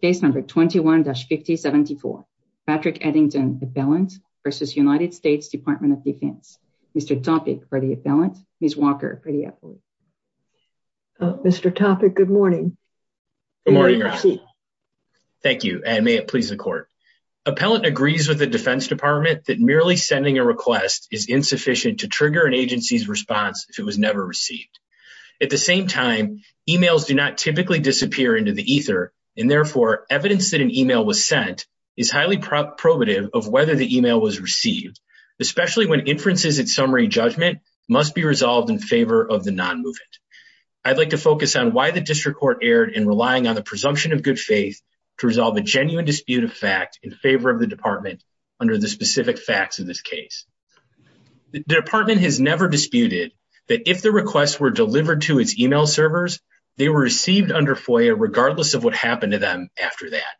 Case number 21-5074. Patrick Eddington, Appellant versus United States Department of Defense. Mr. Topic for the Appellant. Ms. Walker for the Appellant. Mr. Topic, good morning. Good morning. Thank you and may it please the court. Appellant agrees with the Defense Department that merely sending a request is insufficient to trigger an agency's response if it was never received. At the same time, emails do not typically disappear into ether and therefore evidence that an email was sent is highly probative of whether the email was received, especially when inferences at summary judgment must be resolved in favor of the non-movement. I'd like to focus on why the District Court erred in relying on the presumption of good faith to resolve a genuine dispute of fact in favor of the Department under the specific facts of this case. The Department has never disputed that if the requests were delivered to its email servers, they were received under FOIA regardless of what happened to them after that.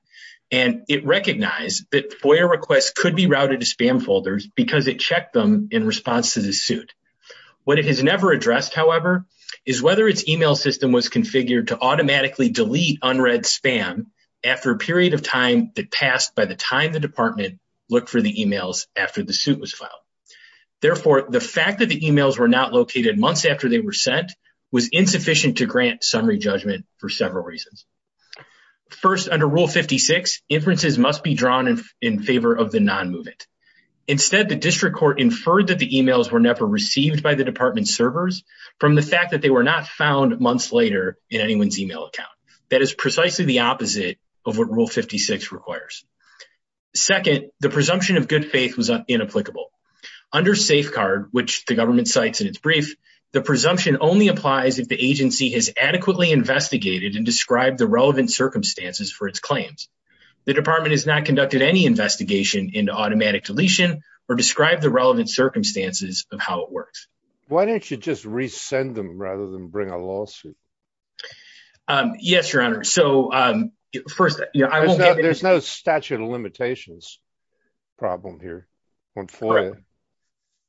And it recognized that FOIA requests could be routed to spam folders because it checked them in response to the suit. What it has never addressed, however, is whether its email system was configured to automatically delete unread spam after a period of time that passed by the time the Department looked for the emails after the suit was filed. Therefore, the fact that the insufficient to grant summary judgment for several reasons. First, under Rule 56, inferences must be drawn in favor of the non-movement. Instead, the District Court inferred that the emails were never received by the Department servers from the fact that they were not found months later in anyone's email account. That is precisely the opposite of what Rule 56 requires. Second, the presumption of good faith was inapplicable. Under safeguard, which the government cites in its brief, the agency has adequately investigated and described the relevant circumstances for its claims. The Department has not conducted any investigation into automatic deletion or described the relevant circumstances of how it works. Why don't you just resend them rather than bring a lawsuit? Yes, Your Honor. So, first, there's no statute of limitations problem here.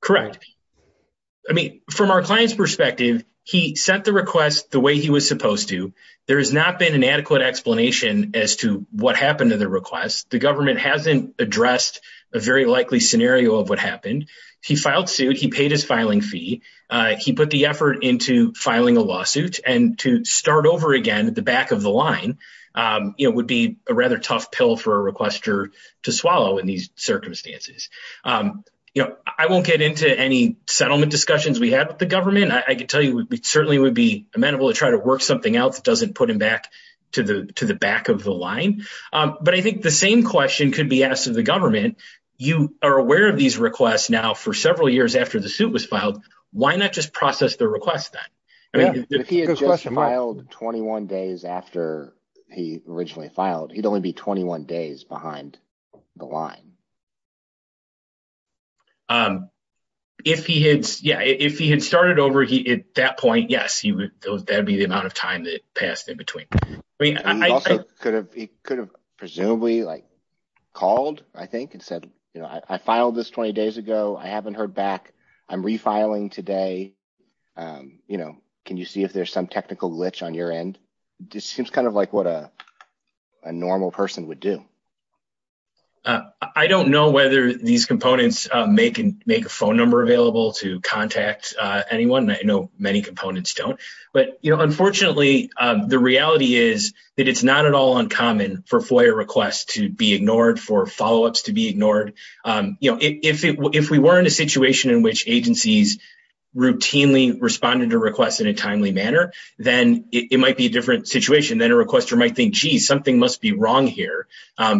Correct. I mean, from our client's perspective, he sent the request the way he was supposed to. There has not been an adequate explanation as to what happened to the request. The government hasn't addressed a very likely scenario of what happened. He filed suit. He paid his filing fee. He put the effort into filing a lawsuit and to start over again at the back of the line would be a rather tough pill for a requester to swallow in these circumstances. I won't get into any settlement discussions we had with the government. I can tell you it certainly would be amenable to try to work something out that doesn't put him back to the back of the line. But I think the same question could be asked of the government. You are aware of these requests now for several years after the suit was filed. Why not just process the request then? If he had just filed 21 days after he originally filed, he'd only be 21 days behind the line. If he had started over at that point, yes, that would be the amount of time that passed in between. He could have presumably called, I think, and said, I filed this 20 days ago. I haven't heard back. I'm refiling today. Can you see if there's some technical glitch on your end? This seems like what a normal person would do. I don't know whether these components make a phone number available to contact anyone. I know many components don't. But unfortunately, the reality is that it's not at all uncommon for FOIA requests to be ignored, for follow-ups to be ignored. If we were in a situation in which agencies routinely responded to requests in a timely manner, then it might be a different situation. Then a requester might think, gee, something must be wrong here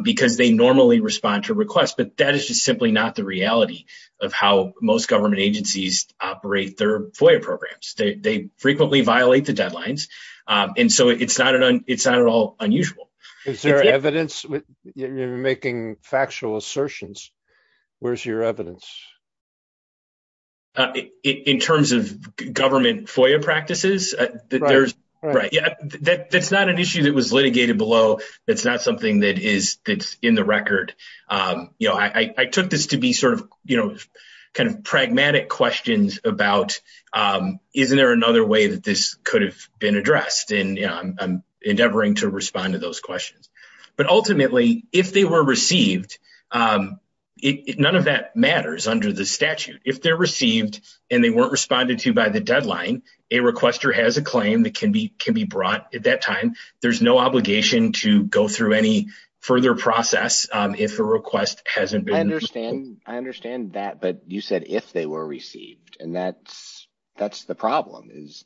because they normally respond to requests. But that is just simply not the reality of how most government agencies operate their FOIA programs. They frequently violate the deadlines. And so it's not at all unusual. Is there evidence? You're making factual assertions. Where's your evidence? In terms of government FOIA practices, that's not an issue that was litigated below. It's not something that is in the record. I took this to be pragmatic questions about, isn't there another way that this could have been addressed? And I'm endeavoring to respond to those questions. But ultimately, if they were received, none of that matters under the statute. If they're received and they weren't responded to by the deadline, a requester has a claim that can be brought at that time. There's no obligation to go through any further process if a request hasn't been... And that's the problem is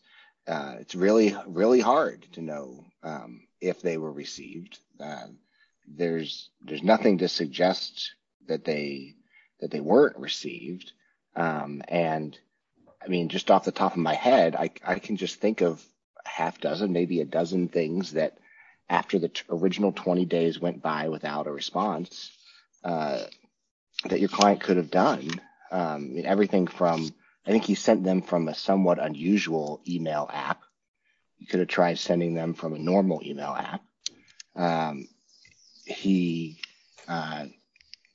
it's really, really hard to know if they were received. There's nothing to suggest that they weren't received. And I mean, just off the top of my head, I can just think of half dozen, maybe a dozen things that after the original 20 days went by without a response that your client could have done. I think he sent them from a somewhat unusual email app. You could have tried sending them from a normal email app. He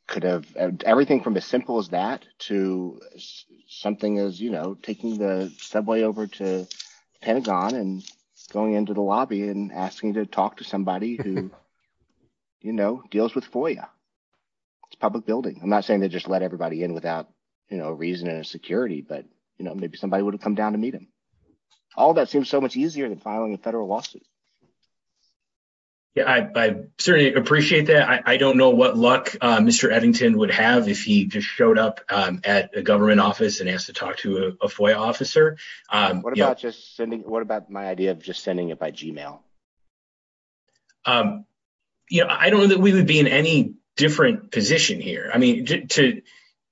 could have... Everything from as simple as that to something as taking the subway over to deals with FOIA. It's public building. I'm not saying they just let everybody in without a reason and a security, but maybe somebody would have come down to meet him. All that seems so much easier than filing a federal lawsuit. Yeah, I certainly appreciate that. I don't know what luck Mr. Eddington would have if he just showed up at a government office and asked to talk to a FOIA officer. What about my idea of just sending it by Gmail? I don't know that we would be in any different position here.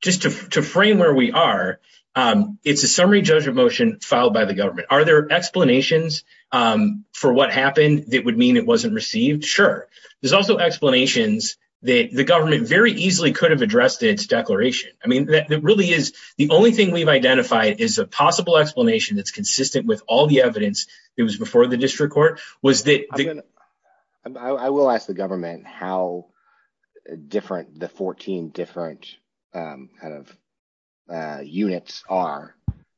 Just to frame where we are, it's a summary judgment motion filed by the government. Are there explanations for what happened that would mean it wasn't received? Sure. There's also explanations that the government very easily could have addressed its declaration. I mean, it really is... The only thing we've identified is a possible explanation that's consistent with all the evidence. It was before the district court. I will ask the government how the 14 different units are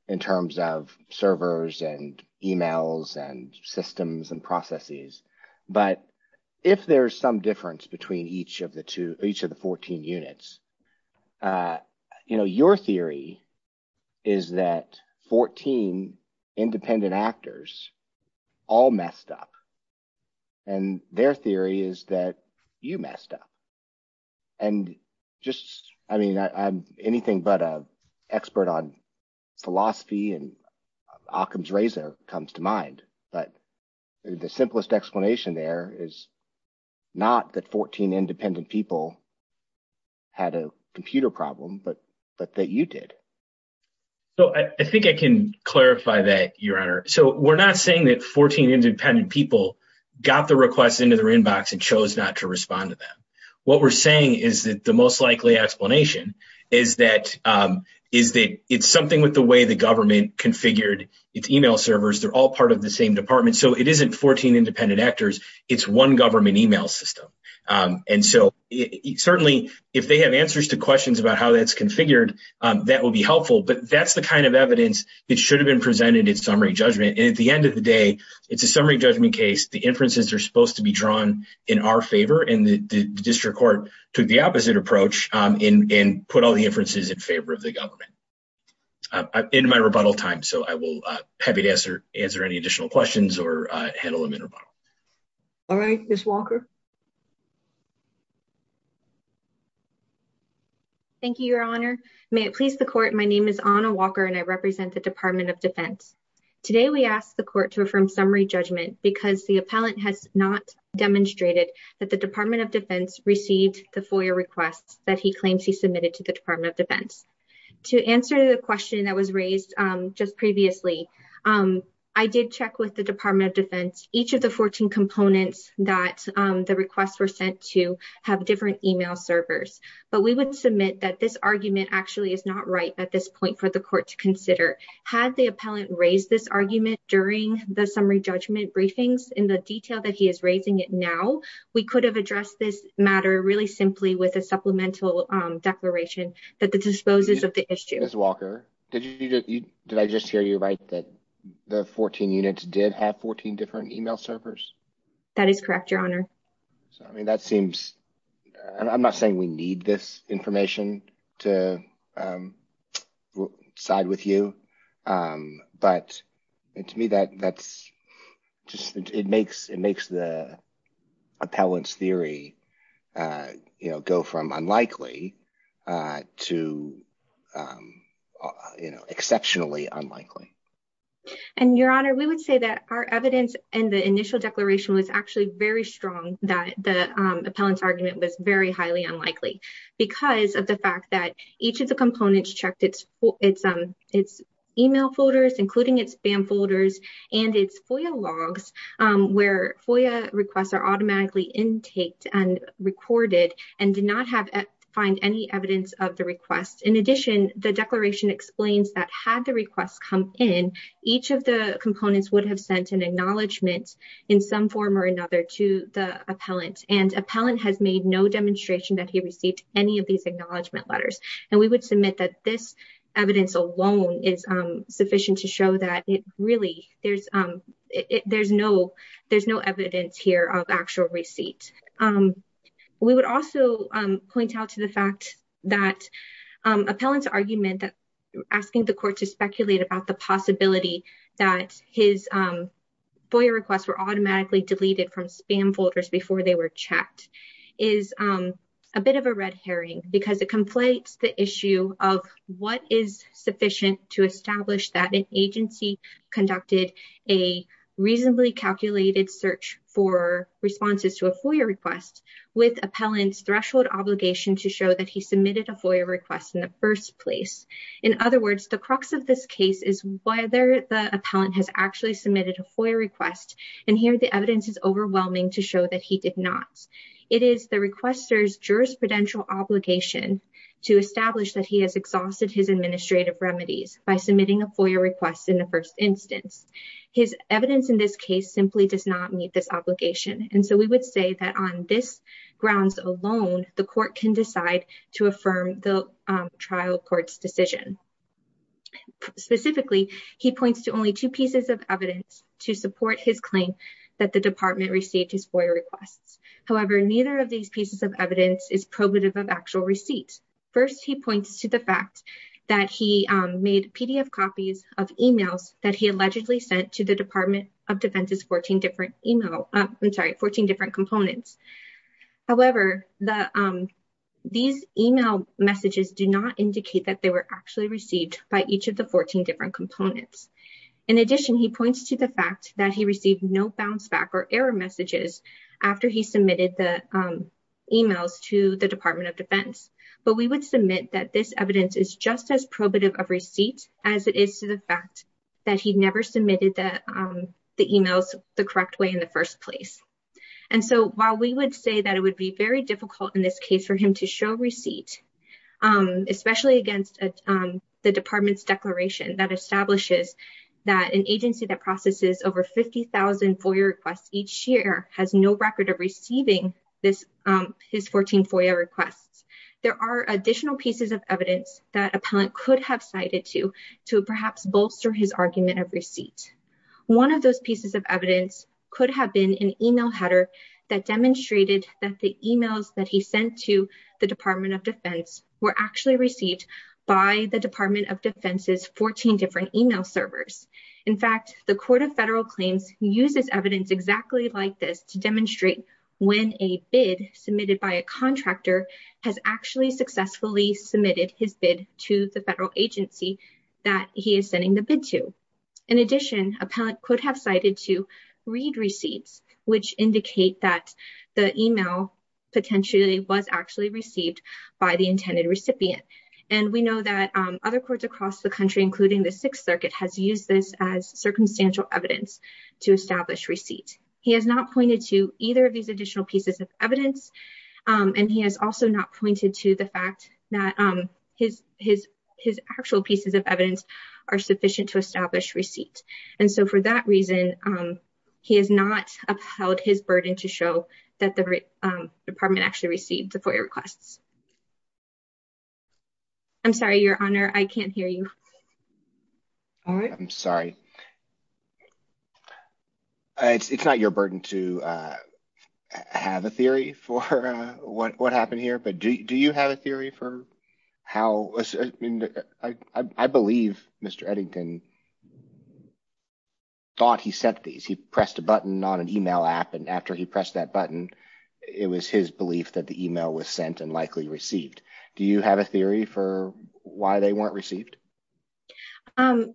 in terms of servers and emails and systems and processes. But if there's some difference between each of the 14 units, your theory is that 14 independent actors all messed up. And their theory is that you messed up. And just, I mean, anything but an expert on philosophy and Occam's razor comes to mind. But the simplest explanation there is not that 14 independent people had a computer problem, but that you did. So I think I can clarify that, Your Honor. So we're not saying that 14 independent people got the request into their inbox and chose not to respond to them. What we're saying is that the most likely explanation is that it's something with the way the government configured its email servers. They're all part of the same department. So it certainly, if they have answers to questions about how that's configured, that will be helpful. But that's the kind of evidence that should have been presented in summary judgment. And at the end of the day, it's a summary judgment case. The inferences are supposed to be drawn in our favor. And the district court took the opposite approach and put all the inferences in favor of the government. I'm in my rebuttal time. So I will be happy to answer any additional questions or handle them in rebuttal. All right, Ms. Walker. Thank you, Your Honor. May it please the court. My name is Anna Walker and I represent the Department of Defense. Today, we ask the court to affirm summary judgment because the appellant has not demonstrated that the Department of Defense received the FOIA requests that he claims he submitted to the Department of Defense. To answer the question that was raised just previously, I did check with the Department of Defense. Each of the 14 components that the requests were sent to have different email servers. But we would submit that this argument actually is not right at this point for the court to consider. Had the appellant raised this argument during the summary judgment briefings in the detail that he is raising it now, we could have addressed this matter really simply with a supplemental declaration that disposes of the issue. Ms. Walker, did I just hear you right that the 14 units did have 14 different email servers? That is correct, Your Honor. I mean, that seems, I'm not saying we need this information to side with you. But to me, that's just, it makes the appellant's theory go from unlikely to exceptionally unlikely. And Your Honor, we would say that our evidence in the initial declaration was actually very strong that the appellant's argument was very highly unlikely because of the fact that each of the FOIA logs, where FOIA requests are automatically intaked and recorded, and did not find any evidence of the request. In addition, the declaration explains that had the request come in, each of the components would have sent an acknowledgment in some form or another to the appellant. And appellant has made no demonstration that he received any of these acknowledgment letters. And we would submit that this evidence alone is sufficient to show that it there's no, there's no evidence here of actual receipt. We would also point out to the fact that appellant's argument that asking the court to speculate about the possibility that his FOIA requests were automatically deleted from spam folders before they were checked is a bit of a red herring because it conflates the issue of what is sufficient to establish that an agency conducted a reasonably calculated search for responses to a FOIA request with appellant's threshold obligation to show that he submitted a FOIA request in the first place. In other words, the crux of this case is whether the appellant has actually submitted a FOIA request. And here the evidence is overwhelming to show that he did not. It is the requester's jurisprudential obligation to establish that he has exhausted his administrative remedies by submitting a FOIA request in the first instance. His evidence in this case simply does not meet this obligation. And so we would say that on this grounds alone, the court can decide to affirm the trial court's decision. Specifically, he points to only two pieces of evidence to support his claim that the department received his FOIA requests. However, neither of these pieces of evidence is probative of actual receipt. First, he points to the fact that he made PDF copies of emails that he allegedly sent to the Department of Defense's 14 different components. However, these email messages do not indicate that they were actually received by each of the 14 different components. In addition, he points to the fact that he received no bounce back or error messages after he submitted the email to the Department of Defense. But we would submit that this evidence is just as probative of receipt as it is to the fact that he never submitted the emails the correct way in the first place. And so while we would say that it would be very difficult in this case for him to show receipt, especially against the department's declaration that establishes that an agency that There are additional pieces of evidence that appellant could have cited to to perhaps bolster his argument of receipt. One of those pieces of evidence could have been an email header that demonstrated that the emails that he sent to the Department of Defense were actually received by the Department of Defense's 14 different email servers. In fact, the court of federal claims uses evidence exactly like this to demonstrate when a bid submitted by a contractor actually successfully submitted his bid to the federal agency that he is sending the bid to. In addition, appellant could have cited to read receipts, which indicate that the email potentially was actually received by the intended recipient. And we know that other courts across the country, including the Sixth Circuit, has used this as circumstantial evidence to establish receipt. He has not pointed to either of these additional pieces of evidence, and he has also not pointed to the fact that his actual pieces of evidence are sufficient to establish receipt. And so for that reason, he has not upheld his burden to show that the department actually received the FOIA requests. I'm sorry, Your Honor, I can't hear you. All right. I'm sorry. It's not your burden to have a theory for what happened here, but do you have a theory for how? I believe Mr. Eddington thought he sent these. He pressed a button on an email app, and after he pressed that button, it was his belief that the email was sent and likely received. Do you have a theory for why they weren't received?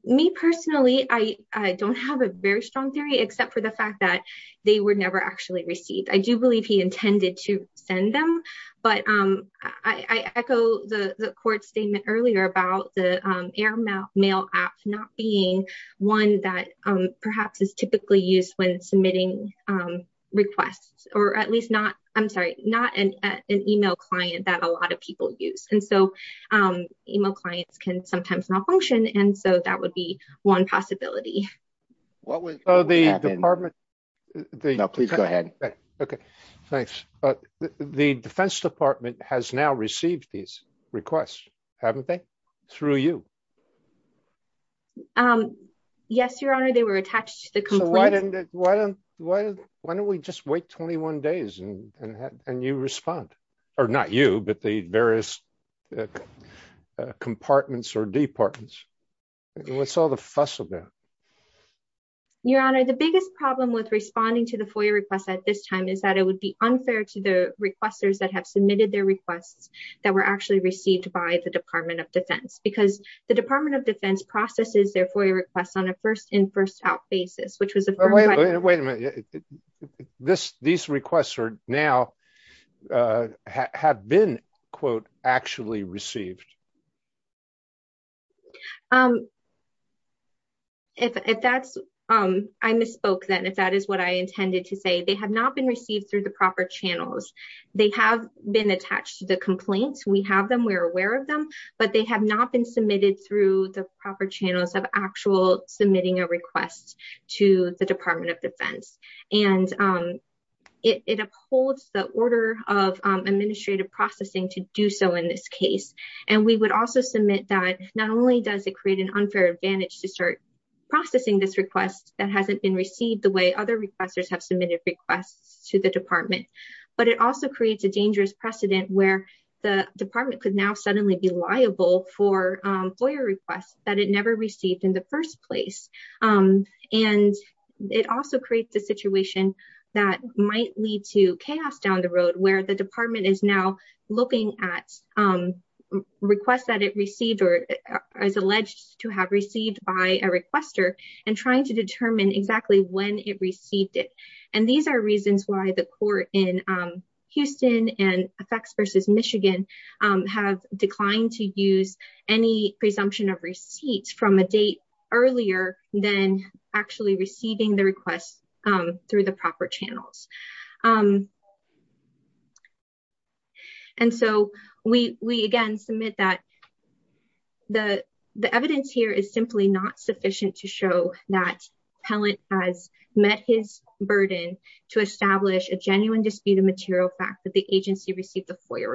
Me personally, I don't have a very strong theory, except for the fact that they were never actually received. I do believe he intended to send them, but I echo the court statement earlier about the AirMail app not being one that perhaps is typically used when submitting requests, or at least not, I'm sorry, not an email client that a lot of people use. And so email clients can sometimes malfunction, and so that would be one possibility. No, please go ahead. Okay, thanks. The Defense Department has now received these requests, haven't they? Through you? Yes, Your Honor, they were attached to the complaint. Why don't we just wait 21 days and you respond? Or not you, but the various compartments or departments. What's all the fuss about? Your Honor, the biggest problem with responding to the FOIA request at this time is that it would be unfair to the requesters that have submitted their requests that were actually received by the Department of Defense, because the Department of Defense processes their FOIA requests on a first-in-first-out basis. Wait a minute. These requests are now, have been, quote, actually received. I misspoke then, if that is what I intended to say. They have not been received through the proper channels. They have been attached to the complaints. We have them, we are aware of them, but they have not been submitted through the proper channels of actual submitting a request to the Department of Defense. And it upholds the order of administrative processing to do so in this case. And we would also submit that not only does it create an unfair advantage to start processing this request that hasn't been received the way other requesters have submitted requests to the Department, but it also creates a dangerous precedent where the Department could now suddenly be liable for FOIA requests that it never received in the first place. And it also creates a situation that might lead to chaos down the road where the department is now looking at requests that it received or is alleged to have received by a requester and trying to determine exactly when it received it. And these are reasons why the court in earlier than actually receiving the request through the proper channels. And so, we again submit that the evidence here is simply not sufficient to show that Pellant has met his burden to establish a genuine dispute of material fact that the agency received the judgment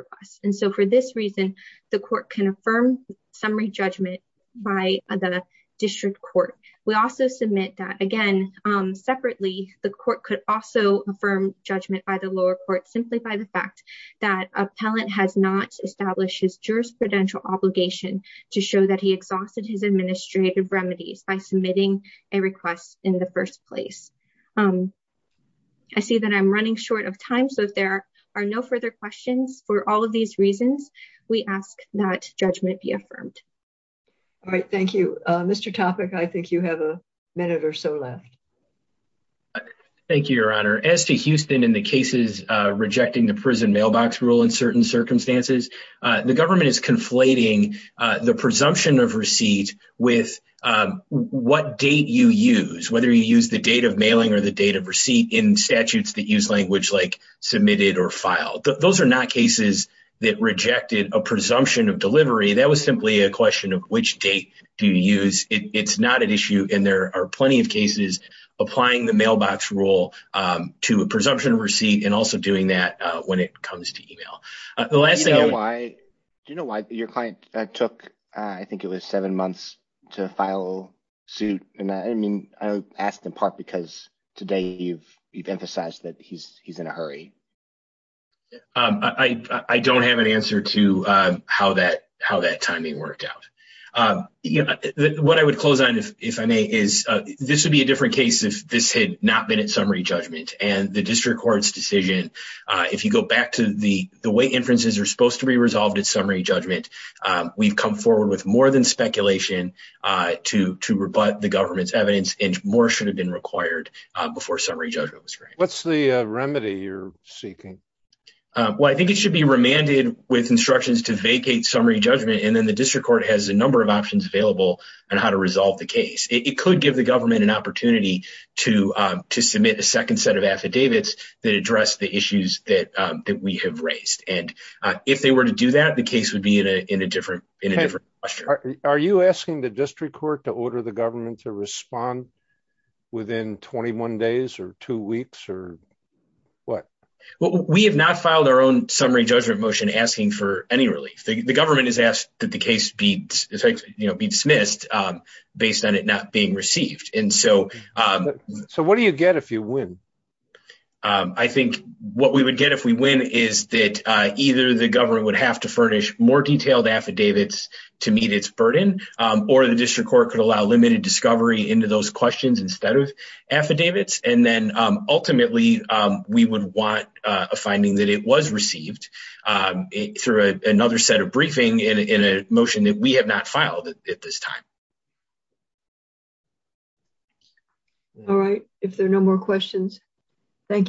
by the district court. We also submit that again, separately, the court could also affirm judgment by the lower court simply by the fact that Appellant has not established his jurisprudential obligation to show that he exhausted his administrative remedies by submitting a request in the first place. I see that I'm running short of time. So, if there are no further questions for all of these reasons, we ask that judgment be affirmed. All right. Thank you. Mr. Topic, I think you have a minute or so left. Thank you, Your Honor. As to Houston and the cases rejecting the prison mailbox rule in certain circumstances, the government is conflating the presumption of receipt with what date you use, whether you use the date of mailing or the date of receipt in statutes that use language like submitted or filed. Those are not cases that rejected a presumption of delivery. That was simply a question of which date do you use. It's not an issue and there are plenty of cases applying the mailbox rule to a presumption of receipt and also doing that when it comes to email. Do you know why your client took, I think it was seven months to file suit? I mean, I asked in part because today you've emphasized that he's in a hurry. I don't have an answer to how that timing worked out. What I would close on, if I may, is this would be a different case if this had not been at summary judgment and the district court's decision, if you go back to the way inferences are supposed to be resolved at summary judgment, we've come forward with more than speculation to rebut the government's evidence and more should have been required before summary judgment was granted. What's the remedy you're seeking? Well, I think it should be remanded with instructions to vacate summary judgment and then the district court has a number of options available on how to resolve the case. It could give the government an opportunity to submit a second set of affidavits that address the issues that we have raised. And if they were to do that, the case would be in a different posture. Are you asking the district court to order the government to respond within 21 days or two weeks or what? Well, we have not filed our own summary judgment motion asking for any relief. The government has asked that the case be dismissed based on it not being received. And so what do you get if you win? I think what we would get if we win is that either the government would have to furnish more detailed affidavits to meet its burden or the district court could allow limited discovery into those questions instead of affidavits. And then ultimately we would want a finding that it was received through another set of briefing in a motion that we have not filed at this time. All right. If there are no more questions. Thank you, sir.